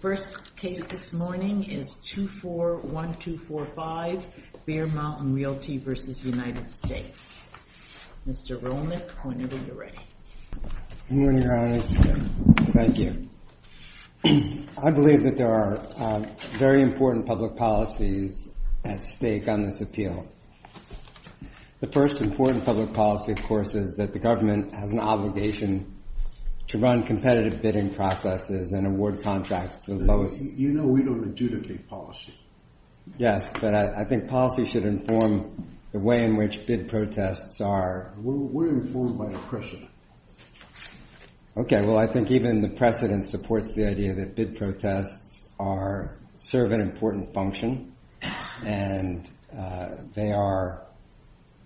First case this morning is 241245 Bear Mountain Realty v. United States. Mr. Rolnick, I want to get you ready. Good morning, Your Honors. Thank you. I believe that there are very important public policies at stake on this appeal. The first important public policy, of course, is that the government has an obligation to run competitive bidding processes and award contracts to the lowest... You know we don't adjudicate policy. Yes, but I think policy should inform the way in which bid protests are... We're informed by the precedent. Okay, well I think even the precedent supports the idea that bid protests serve an important function and they are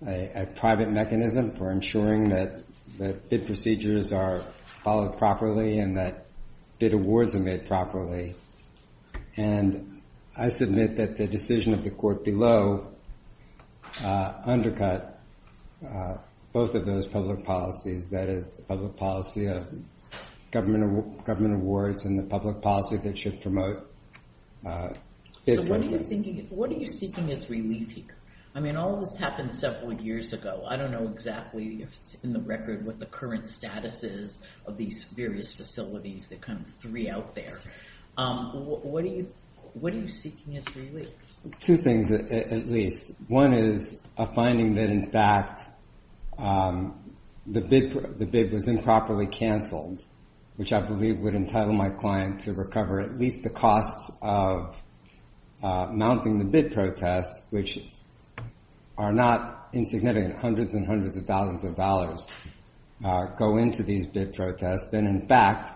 a private mechanism for ensuring that bid procedures are followed properly and that bid awards are made properly. And I submit that the decision of the court below undercut both of those public policies, that is the public policy of government awards and the public policy that should promote bid protests. So what are you seeking as relief here? I mean all this happened several years ago. I don't know exactly if it's in the record what the current status is of these various facilities, the kind of three out there. What are you seeking as relief? Two things at least. One is a finding that in fact the bid was improperly canceled, which I believe would entitle my client to recover at least the costs of mounting the bid protest, which are not insignificant. Hundreds and hundreds of thousands of dollars go into these bid protests. And in fact,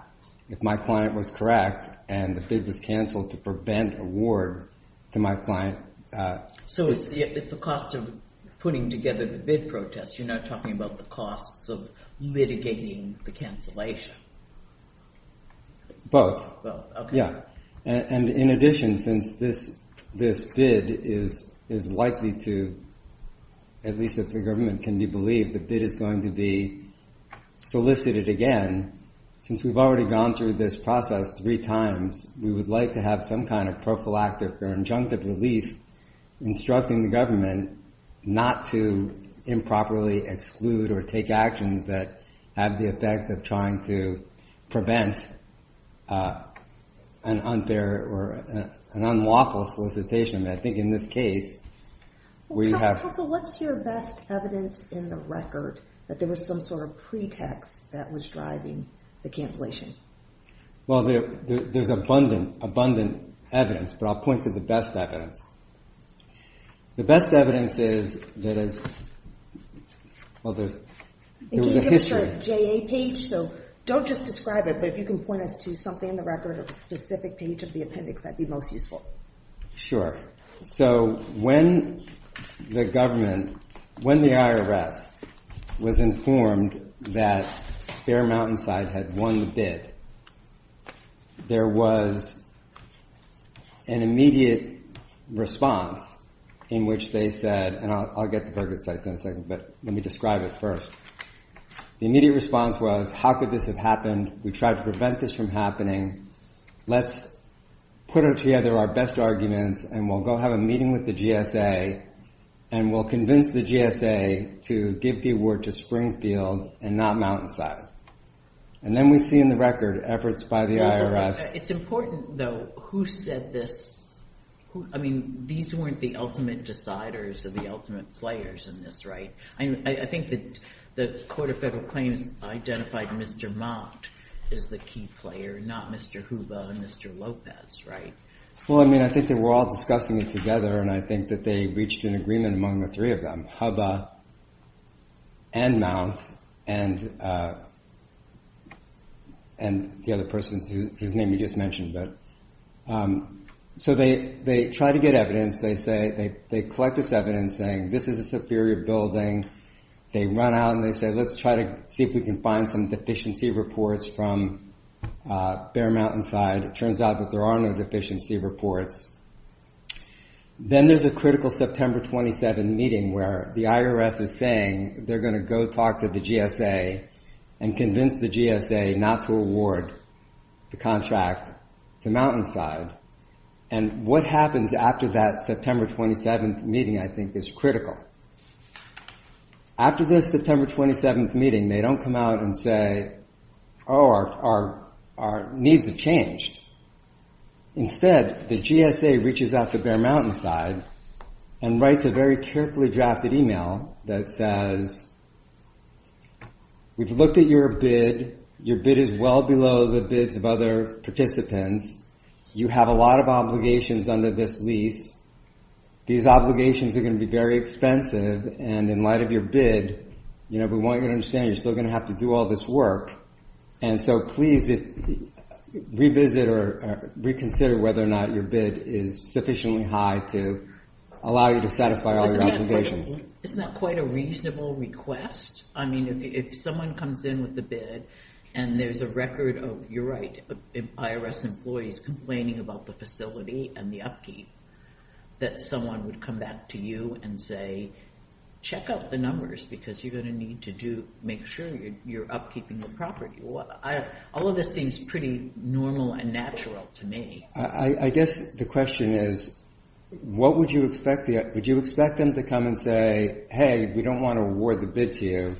if my client was correct and the bid was canceled to prevent award to my client... So it's the cost of putting together the bid protest, you're not talking about the costs of litigating the cancellation. Both. And in addition, since this bid is likely to, at least if the government can be believed, the bid is going to be solicited again. And since we've already gone through this process three times, we would like to have some kind of prophylactic or injunctive relief instructing the government not to improperly exclude or take actions that have the effect of trying to prevent an unfair or an unlawful solicitation. And I think in this case, we have... Counsel, what's your best evidence in the record that there was some sort of pretext that was driving the cancellation? Well, there's abundant evidence, but I'll point to the best evidence. The best evidence is that as... Well, there's a history. Can you give us your JA page? So don't just describe it, but if you can point us to something in the record or a specific page of the appendix, that'd be most useful. Sure. So when the government, when the IRS was informed that Bear Mountainside had won the bid, there was an immediate response in which they said, and I'll get to Burgoodside in a second, but let me describe it first. The immediate response was, how could this have happened? We tried to prevent this from happening. Let's put together our best arguments and we'll go have a meeting with the GSA and we'll convince the GSA to give the award to Springfield and not Mountainside. And then we see in the record efforts by the IRS... The Court of Federal Claims identified Mr. Mount as the key player, not Mr. Hubba and Mr. Lopez, right? And they said, let's try to see if we can find some deficiency reports from Bear Mountainside. It turns out that there are no deficiency reports. Then there's a critical September 27 meeting where the IRS is saying they're going to go talk to the GSA and convince the GSA not to award the contract to Mountainside. And what happens after that September 27 meeting, I think, is critical. After this September 27 meeting, they don't come out and say, oh, our needs have changed. Instead, the GSA reaches out to Bear Mountainside and writes a very carefully drafted email that says, we've looked at your bid. Your bid is well below the bids of other participants. You have a lot of obligations under this lease. These obligations are going to be very expensive. And in light of your bid, we want you to understand you're still going to have to do all this work. And so please, revisit or reconsider whether or not your bid is sufficiently high to allow you to satisfy all your obligations. It's not quite a reasonable request. I mean, if someone comes in with a bid and there's a record of, you're right, IRS employees complaining about the facility and the upkeep, that someone would come back to you and say, check out the numbers because you're going to need to make sure you're upkeeping the property. All of this seems pretty normal and natural to me. I guess the question is, would you expect them to come and say, hey, we don't want to award the bid to you,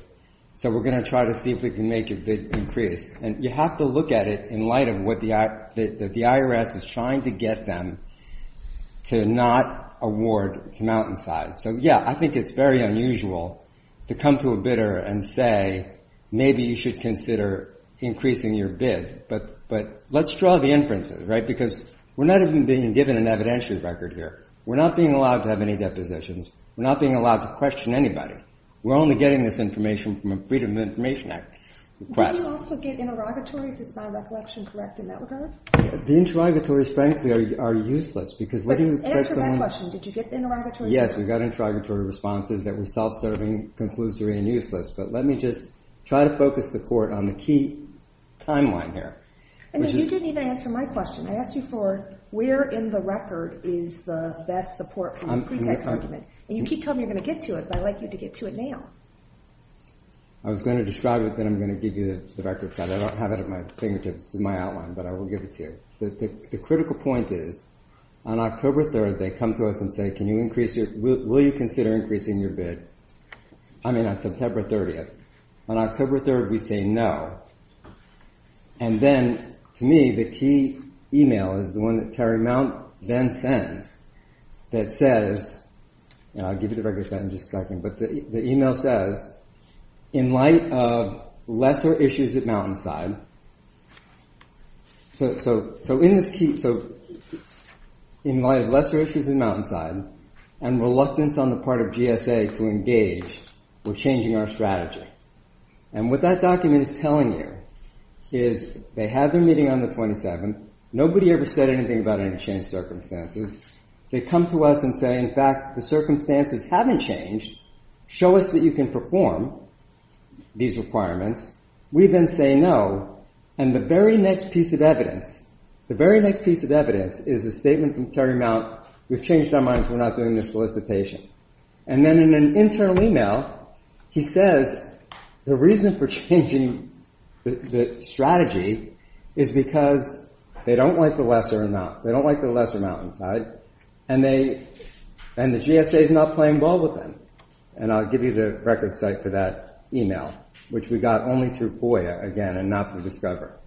so we're going to try to see if we can make your bid increase. And you have to look at it in light of what the IRS is trying to get them to not award to Mountainside. So yeah, I think it's very unusual to come to a bidder and say, maybe you should consider increasing your bid. But let's draw the inferences, right? Because we're not even being given an evidentiary record here. We're not being allowed to have any depositions. We're not being allowed to question anybody. We're only getting this information from a Freedom of Information Act request. Do you also get interrogatories? Is my recollection correct in that regard? The interrogatories, frankly, are useless. Answer my question. Did you get interrogatories? Yes, we got interrogatory responses that were self-serving, conclusory, and useless. But let me just try to focus the Court on the key timeline here. I mean, you didn't even answer my question. I asked you for where in the record is the best support from a pretext argument. And you keep telling me you're going to get to it, but I'd like you to get to it now. I was going to describe it, then I'm going to give you the record set. I don't have it at my fingertips. It's in my outline, but I will give it to you. The critical point is, on October 3rd, they come to us and say, will you consider increasing your bid? I mean, on September 30th. On October 3rd, we say no. And then, to me, the key email is the one that Terry Mount then sends that says, and I'll give you the record set in just a second, but the email says, in light of lesser issues at Mountainside, and reluctance on the part of GSA to engage, we're changing our strategy. And what that document is telling you is they have their meeting on the 27th. Nobody ever said anything about any changed circumstances. They come to us and say, in fact, the circumstances haven't changed. Show us that you can perform these requirements. We then say no, and the very next piece of evidence is a statement from Terry Mount, we've changed our minds, we're not doing this solicitation. And then, in an internal email, he says, the reason for changing the strategy is because they don't like the lesser Mountainside, and the GSA's not playing ball with them. And I'll give you the record set for that email, which we got only through FOIA, again, and not through Discover.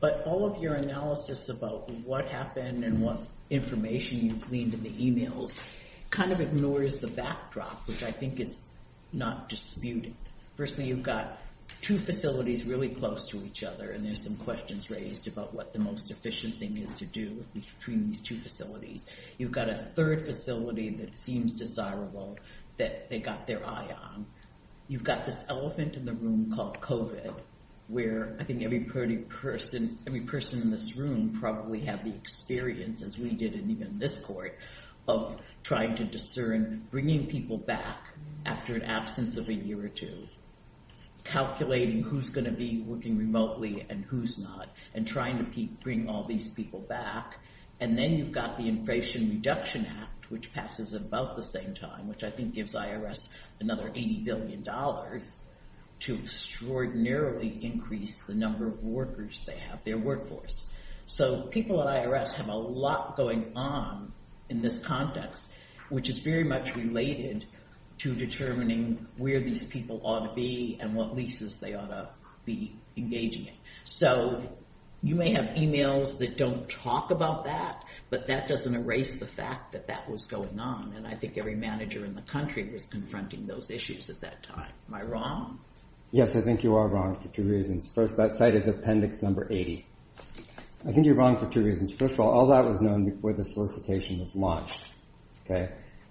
But all of your analysis about what happened and what information you've gleaned in the emails kind of ignores the backdrop, which I think is not disputed. Firstly, you've got two facilities really close to each other, and there's some questions raised about what the most efficient thing is to do between these two facilities. You've got a third facility that seems desirable that they got their eye on. You've got this elephant in the room called COVID, where I think every person in this room probably have the experience, as we did in even this court, of trying to discern bringing people back after an absence of a year or two, calculating who's going to be working remotely and who's not, and trying to bring all these people back. And then you've got the Infration Reduction Act, which passes at about the same time, which I think gives IRS another $80 billion to extraordinarily increase the number of workers they have, their workforce. So, people at IRS have a lot going on in this context, which is very much related to determining where these people ought to be and what leases they ought to be engaging in. So, you may have emails that don't talk about that, but that doesn't erase the fact that that was going on, and I think every manager in the country was confronting those issues at that time. Am I wrong? Yes, I think you are wrong for two reasons. First, that site is Appendix No. 80. I think you're wrong for two reasons. First of all, all that was known before the solicitation was launched.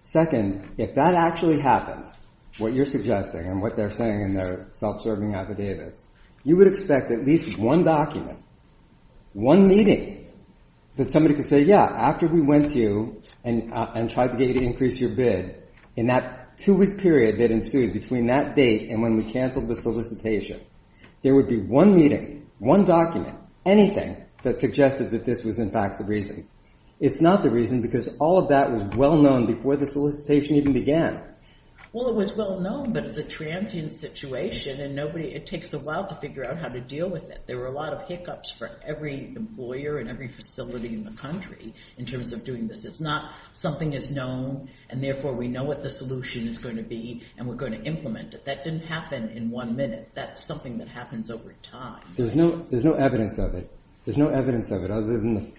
Second, if that actually happened, what you're suggesting and what they're saying in their self-serving affidavits, you would expect at least one document, one meeting, that somebody could say, yeah, after we went to you and tried to increase your bid, in that two-week period that ensued between that date and when we cancelled the solicitation, there would be one meeting, one document, anything that suggested that this was in fact the reason. It's not the reason because all of that was well-known before the solicitation even began. Well, it was well-known, but it's a transient situation and it takes a while to figure out how to deal with it. There were a lot of hiccups for every employer and every facility in the country in terms of doing this. It's not something is known and therefore we know what the solution is going to be and we're going to implement it. That didn't happen in one minute. That's something that happens over time. There's no evidence of it other than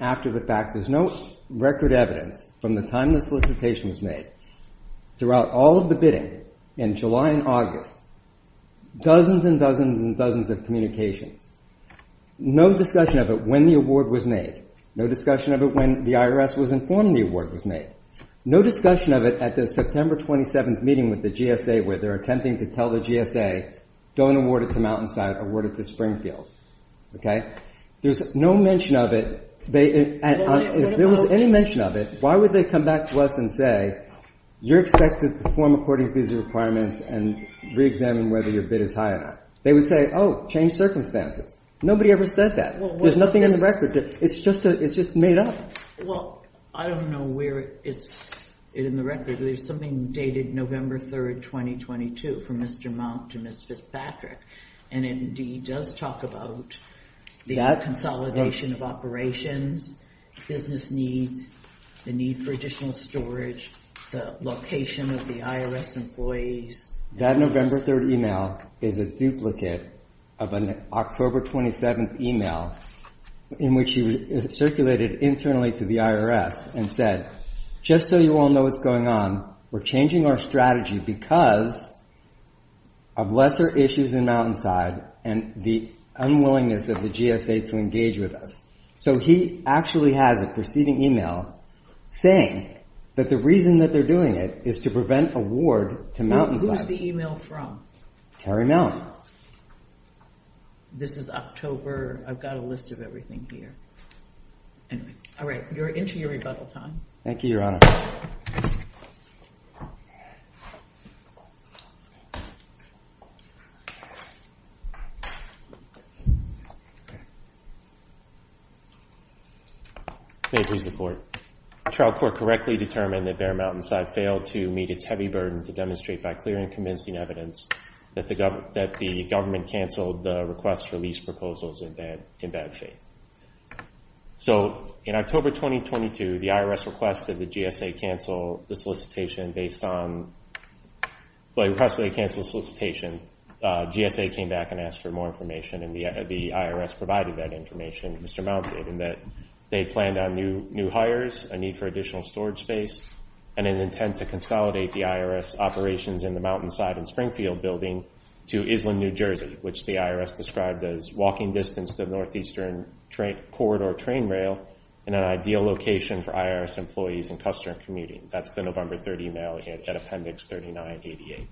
after the fact. There's no record evidence from the time the solicitation was made throughout all of the bidding in July and August, dozens and dozens and dozens of communications. No discussion of it when the award was made. No discussion of it when the IRS was informed the award was made. No discussion of it at the September 27th meeting with the GSA where they're attempting to tell the GSA, don't award it to Mountainside, award it to Springfield. There's no mention of it. If there was any mention of it, why would they come back to us and say, you're expected to perform according to these requirements and re-examine whether your bid is high enough. They would say, oh, change circumstances. Nobody ever said that. There's nothing in the record. It's just made up. Well, I don't know where it's in the record. There's something dated November 3rd, 2022 from Mr. Mount to Ms. Fitzpatrick and it indeed does talk about the consolidation of operations, business needs, the need for additional storage, the location of the IRS employees. That November 3rd email is a duplicate of an October 27th email in which he circulated internally to the IRS and said, just so you all know what's going on, we're changing our strategy because of lesser issues in Mountainside and the unwillingness of the GSA to engage with us. So he actually has a preceding email saying that the reason that they're doing it is to prevent award to Mountainside. Who is the email from? Terry Mellon. This is October. I've got a list of everything here. Anyway. All right. You're into your rebuttal time. Thank you, Your Honor. May it please the Court. The trial court correctly determined that Bear Mountainside failed to meet its heavy burden to demonstrate by clear and convincing evidence that the government canceled the request for lease proposals in bad faith. So in October 2022, the IRS requested the GSA cancel the solicitation based on, requested they cancel the solicitation. GSA came back and asked for more information and the IRS provided that information to Mr. Mountainside in that they planned on new hires, a need for additional storage space, and an intent to consolidate the IRS operations in the Mountainside and Springfield building to Island, New Jersey, which the IRS described as walking distance to Northeastern Corridor train rail and an ideal location for IRS employees and customer commuting. That's the November 30 email at appendix 3988.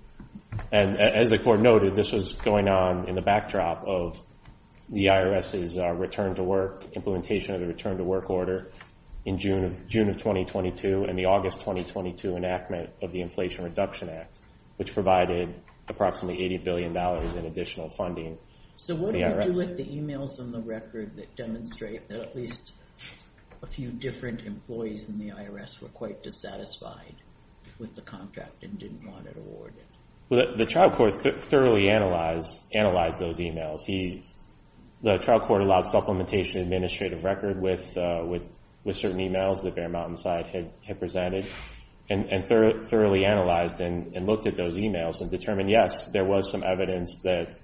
And as the Court noted, this was going on in the backdrop of the IRS's return to work, implementation of the return to work order in June of 2022 and the August 2022 enactment of the Inflation Reduction Act, which provided approximately $80 billion in additional funding to the IRS. What did you do with the emails on the record that demonstrate that at least a few different employees in the IRS were quite dissatisfied with the contract and didn't want it awarded? Well, the trial court thoroughly analyzed those emails. The trial court allowed supplementation administrative record with certain emails that Bear Mountainside had presented and thoroughly analyzed and looked at those emails and determined, yes, there was some evidence that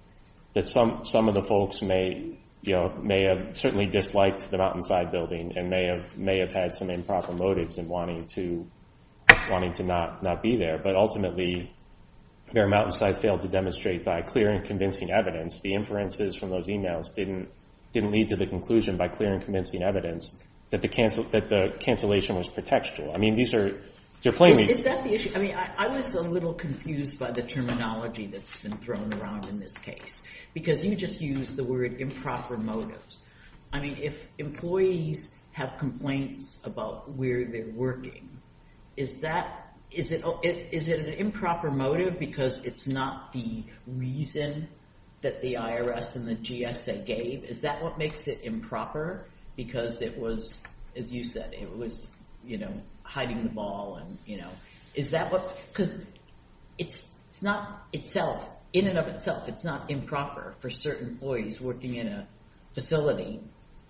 some of the folks may have certainly disliked the Mountainside building and may have had some improper motives in wanting to not be there. But ultimately, Bear Mountainside failed to demonstrate by clear and convincing evidence the inferences from those emails didn't lead to the conclusion by clear and convincing evidence that the cancellation was pretextual. I mean, these are plainly— Is that the issue? I mean, I was a little confused by the terminology that's been thrown around in this case because you just used the word improper motives. I mean, if employees have complaints about where they're working, is that—is it an improper motive because it's not the reason that the IRS and the GSA gave? Is that what makes it improper because it was, as you said, it was hiding the ball? Is that what—because it's not itself—in and of itself, it's not improper for certain employees working in a facility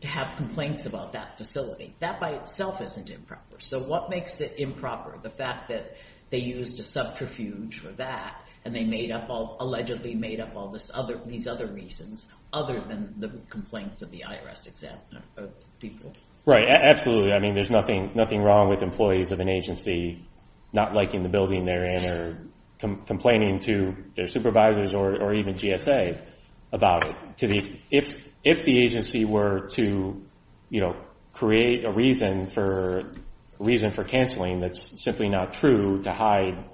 to have complaints about that facility. That by itself isn't improper. So what makes it improper, the fact that they used a subterfuge for that and they made up all—allegedly made up all these other reasons other than the complaints of the IRS people? Right. Absolutely. I mean, there's nothing wrong with employees of an agency not liking the building they're in or complaining to their supervisors or even GSA about it. If the agency were to, you know, create a reason for—a reason for canceling that's simply not true to hide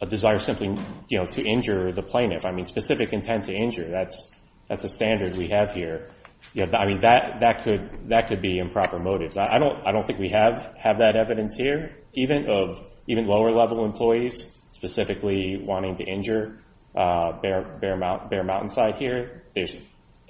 a desire simply, you know, to injure the plaintiff. I mean, specific intent to injure. That's a standard we have here. I mean, that could be improper motives. I don't think we have that evidence here even of even lower-level employees specifically wanting to injure Bear Mountainside here.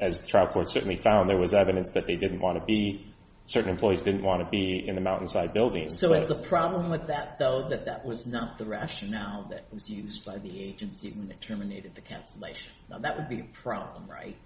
As the trial court certainly found, there was evidence that they didn't want to be—certain employees didn't want to be in the Mountainside building. So is the problem with that, though, that that was not the rationale that was used by the agency when it terminated the cancellation? Now, that would be a problem, right?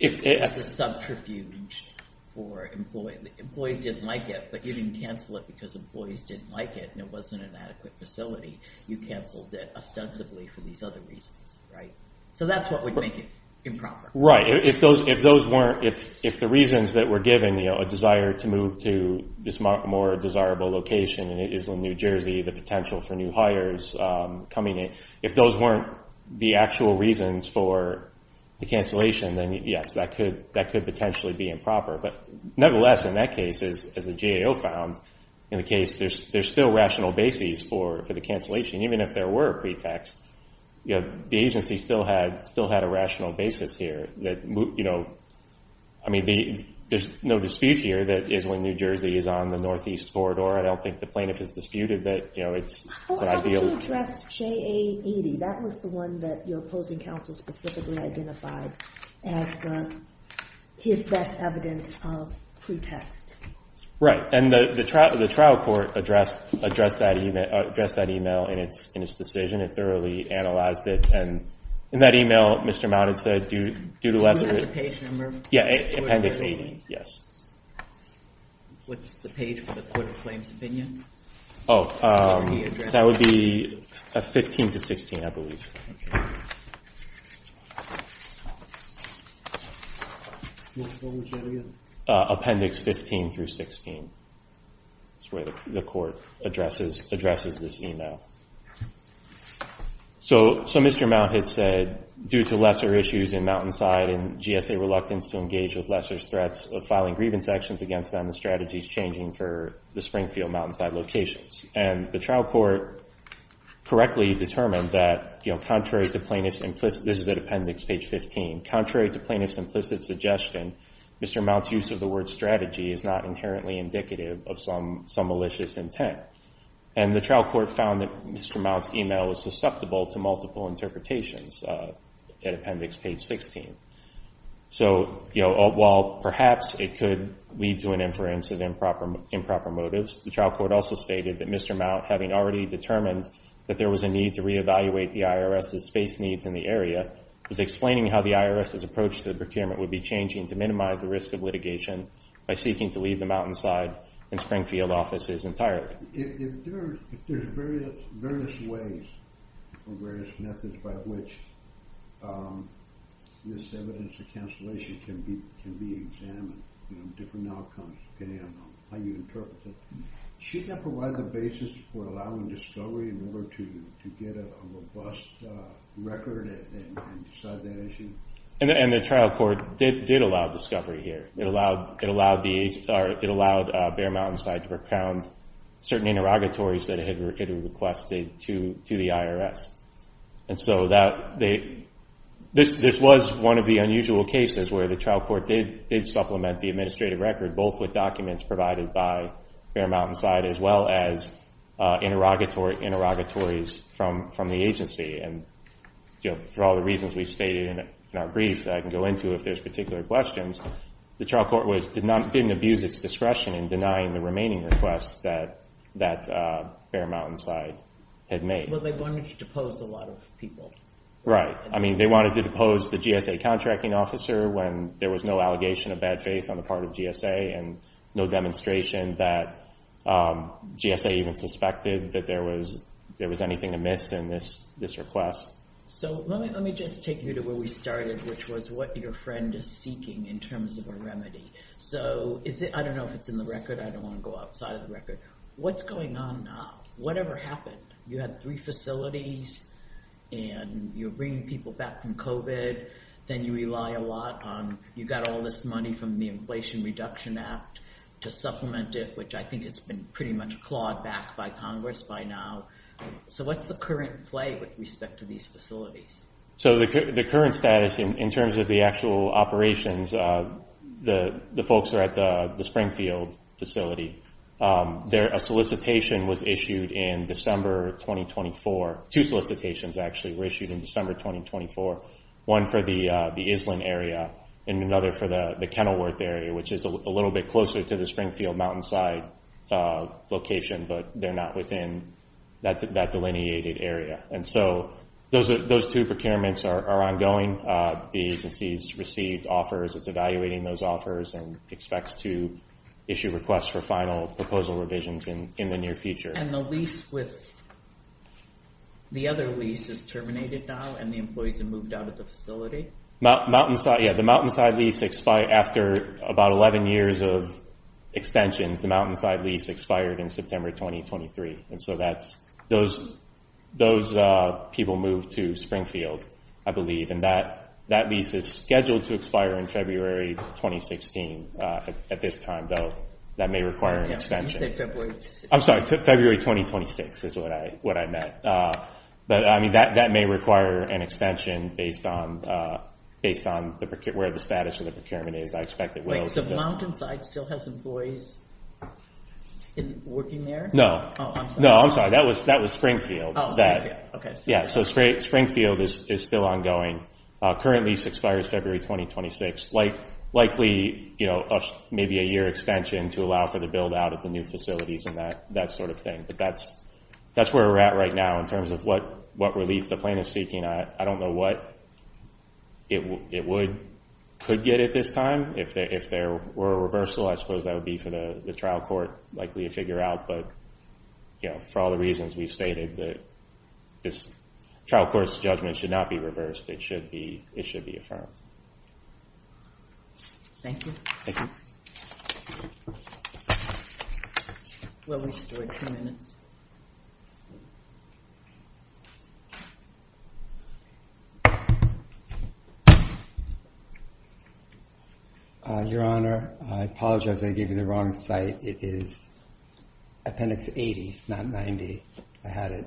That's a subterfuge for employees. Employees didn't like it, but you didn't cancel it because employees didn't like it and it wasn't an adequate facility. You canceled it ostensibly for these other reasons, right? So that's what would make it improper. Right. If those weren't—if the reasons that were given, you know, a desire to move to this more desirable location in Island, New Jersey, the potential for new hires coming in, if those weren't the actual reasons for the cancellation, then yes, that could potentially be improper. But nevertheless, in that case, as the GAO found, in the case, there's still rational basis for the cancellation. Even if there were a pretext, you know, the agency still had a rational basis here that, you know— I mean, there's no dispute here that Island, New Jersey is on the Northeast Corridor. I don't think the plaintiff has disputed that, you know, it's an ideal— Yes, J.A. 80, that was the one that your opposing counsel specifically identified as his best evidence of pretext. Right, and the trial court addressed that email in its decision and thoroughly analyzed it. And in that email, Mr. Mount had said due to— Do you have the page number? Yeah, Appendix 80, yes. What's the page for the Court of Claims Opinion? Oh, that would be 15 to 16, I believe. What was that again? Appendix 15 through 16. That's where the court addresses this email. So Mr. Mount had said, due to lesser issues in Mountainside and GSA reluctance to engage with lesser threats of filing grievance actions against them, the strategy is changing for the Springfield-Mountainside locations. And the trial court correctly determined that, you know, contrary to plaintiff's implicit— this is at Appendix page 15—contrary to plaintiff's implicit suggestion, Mr. Mount's use of the word strategy is not inherently indicative of some malicious intent. And the trial court found that Mr. Mount's email was susceptible to multiple interpretations at Appendix page 16. So, you know, while perhaps it could lead to an inference of improper motives, the trial court also stated that Mr. Mount, having already determined that there was a need to reevaluate the IRS's space needs in the area, was explaining how the IRS's approach to the procurement would be changing to minimize the risk of litigation by seeking to leave the Mountainside and Springfield offices entirely. If there's various ways or various methods by which this evidence of cancellation can be examined, you know, different outcomes depending on how you interpret it, should that provide the basis for allowing discovery in order to get a robust record and decide that issue? And the trial court did allow discovery here. It allowed Bear Mountainside to recount certain interrogatories that it had requested to the IRS. And so this was one of the unusual cases where the trial court did supplement the administrative record, both with documents provided by Bear Mountainside as well as interrogatories from the agency. And, you know, for all the reasons we stated in our brief that I can go into if there's particular questions, the trial court didn't abuse its discretion in denying the remaining requests that Bear Mountainside had made. Well, they wanted to depose a lot of people. Right. I mean, they wanted to depose the GSA contracting officer when there was no allegation of bad faith on the part of GSA and no demonstration that GSA even suspected that there was anything amiss in this request. So let me just take you to where we started, which was what your friend is seeking in terms of a remedy. So I don't know if it's in the record. I don't want to go outside of the record. What's going on now? Whatever happened? You had three facilities and you're bringing people back from COVID. Then you rely a lot on you got all this money from the Inflation Reduction Act to supplement it, which I think has been pretty much clawed back by Congress by now. So what's the current play with respect to these facilities? So the current status in terms of the actual operations, the folks are at the Springfield facility. A solicitation was issued in December 2024. Two solicitations actually were issued in December 2024. One for the Island area and another for the Kenilworth area, which is a little bit closer to the Springfield mountainside location, but they're not within that delineated area. And so those two procurements are ongoing. The agency's received offers. It's evaluating those offers and expects to issue requests for final proposal revisions in the near future. And the lease with the other lease is terminated now and the employees have moved out of the facility? The mountainside lease expired after about 11 years of extensions. The mountainside lease expired in September 2023. And so those people moved to Springfield, I believe. And that lease is scheduled to expire in February 2016. At this time, though, that may require an extension. I'm sorry, February 2026 is what I meant. But, I mean, that may require an extension based on where the status of the procurement is. I expect it will. Wait, so mountainside still has employees working there? No. Oh, I'm sorry. No, I'm sorry. That was Springfield. Oh, Springfield. Yeah, so Springfield is still ongoing. Current lease expires February 2026. It's likely maybe a year extension to allow for the build-out of the new facilities and that sort of thing. But that's where we're at right now in terms of what relief the plaintiff is seeking. I don't know what it could get at this time. If there were a reversal, I suppose that would be for the trial court likely to figure out. But for all the reasons we stated, this trial court's judgment should not be reversed. It should be affirmed. Thank you. Thank you. We'll restore a few minutes. Your Honor, I apologize. I gave you the wrong site. It is Appendix 80, not 90. I had it.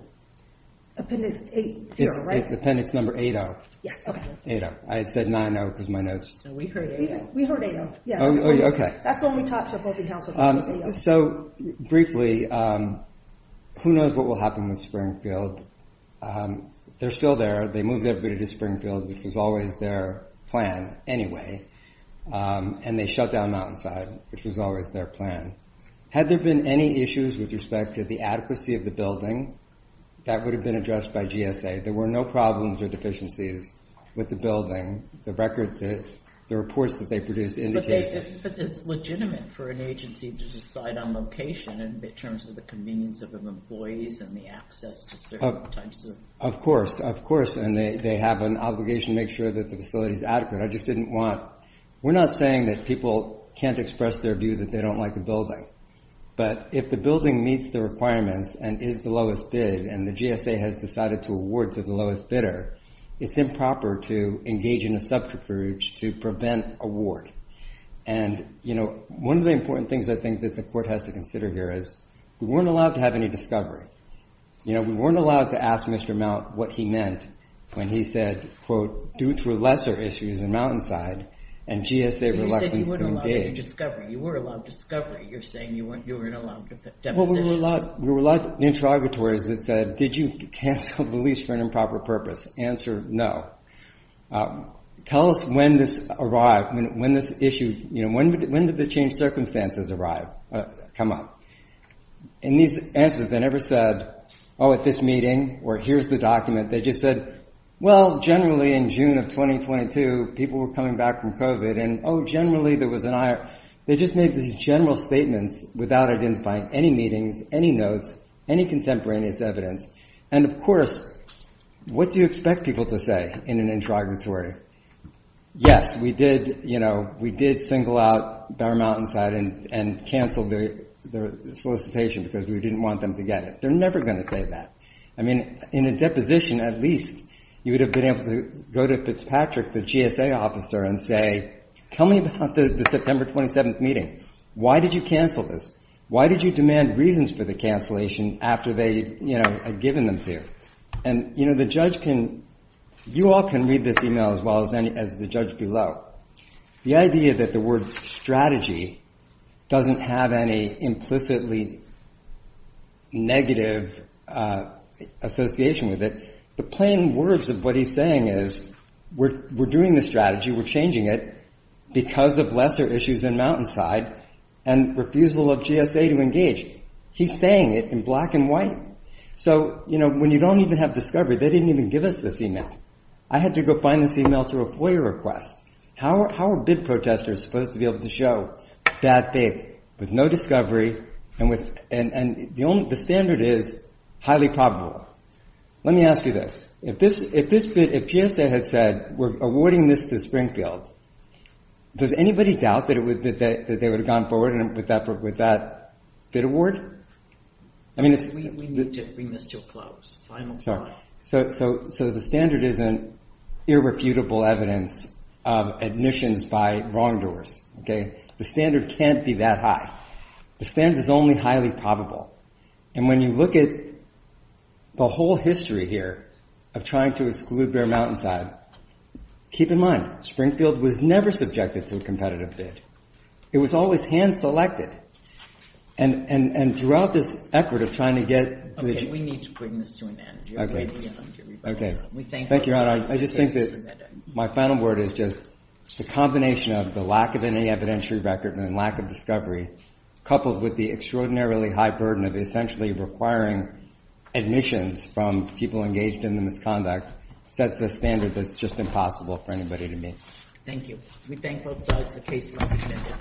Appendix 8-0, right? It's Appendix number 8-0. Yes, okay. 8-0. I had said 9-0 because my notes. We heard 8-0. We heard 8-0, yes. Oh, okay. That's the one we talked to opposing counsel about, was 8-0. So briefly, who knows what will happen with Springfield? They're still there. They moved everybody to Springfield, which was always their plan anyway. And they shut down Mountainside, which was always their plan. Had there been any issues with respect to the adequacy of the building, that would have been addressed by GSA. There were no problems or deficiencies with the building. The reports that they produced indicate that. But it's legitimate for an agency to decide on location in terms of the convenience of employees and the access to certain types of. Of course, of course. And they have an obligation to make sure that the facility is adequate. I just didn't want. We're not saying that people can't express their view that they don't like the building. But if the building meets the requirements and is the lowest bid and the GSA has decided to award to the lowest bidder, it's improper to engage in a subterfuge to prevent award. And, you know, one of the important things I think that the court has to consider here is we weren't allowed to have any discovery. You know, we weren't allowed to ask Mr. Mount what he meant when he said, quote, due to lesser issues in Mountainside and GSA reluctance to engage. You said you weren't allowed any discovery. You were allowed discovery. You're saying you weren't allowed depositions. Well, we were allowed interrogatories that said, did you cancel the lease for an improper purpose? Answer, no. Tell us when this arrived, when this issue, you know, when did the changed circumstances arrive, come up? And these answers, they never said, oh, at this meeting or here's the document. They just said, well, generally in June of 2022 people were coming back from COVID and, oh, generally there was an IR. They just made these general statements without identifying any meetings, any notes, any contemporaneous evidence. And, of course, what do you expect people to say in an interrogatory? Yes, we did, you know, we did single out Dar Mountainside and canceled their solicitation because we didn't want them to get it. They're never going to say that. I mean, in a deposition at least you would have been able to go to Fitzpatrick, the GSA officer, and say, tell me about the September 27th meeting. Why did you cancel this? Why did you demand reasons for the cancellation after they, you know, had given them to you? And, you know, the judge can, you all can read this email as well as the judge below. The idea that the word strategy doesn't have any implicitly negative association with it, the plain words of what he's saying is we're doing the strategy, we're changing it because of lesser issues in Mountainside and refusal of GSA to engage. He's saying it in black and white. So, you know, when you don't even have discovery, they didn't even give us this email. I had to go find this email through a FOIA request. How are bid protesters supposed to be able to show that bid with no discovery and the standard is highly probable? Let me ask you this. If this bid, if GSA had said we're awarding this to Springfield, does anybody doubt that they would have gone forward with that bid award? We need to bring this to a close. So the standard isn't irrefutable evidence of admissions by wrongdoers, okay? The standard can't be that high. The standard is only highly probable. And when you look at the whole history here of trying to exclude Bear Mountainside, keep in mind, Springfield was never subjected to a competitive bid. It was always hand-selected. And throughout this effort of trying to get to the gym. We need to bring this to an end. Okay. Okay. Thank you, Your Honor. I just think that my final word is just the combination of the lack of any evidentiary record and the lack of discovery coupled with the extraordinarily high burden of essentially requiring admissions from people engaged in the misconduct sets a standard that's just impossible for anybody to meet. Thank you. We thank both sides of the case. Thank you.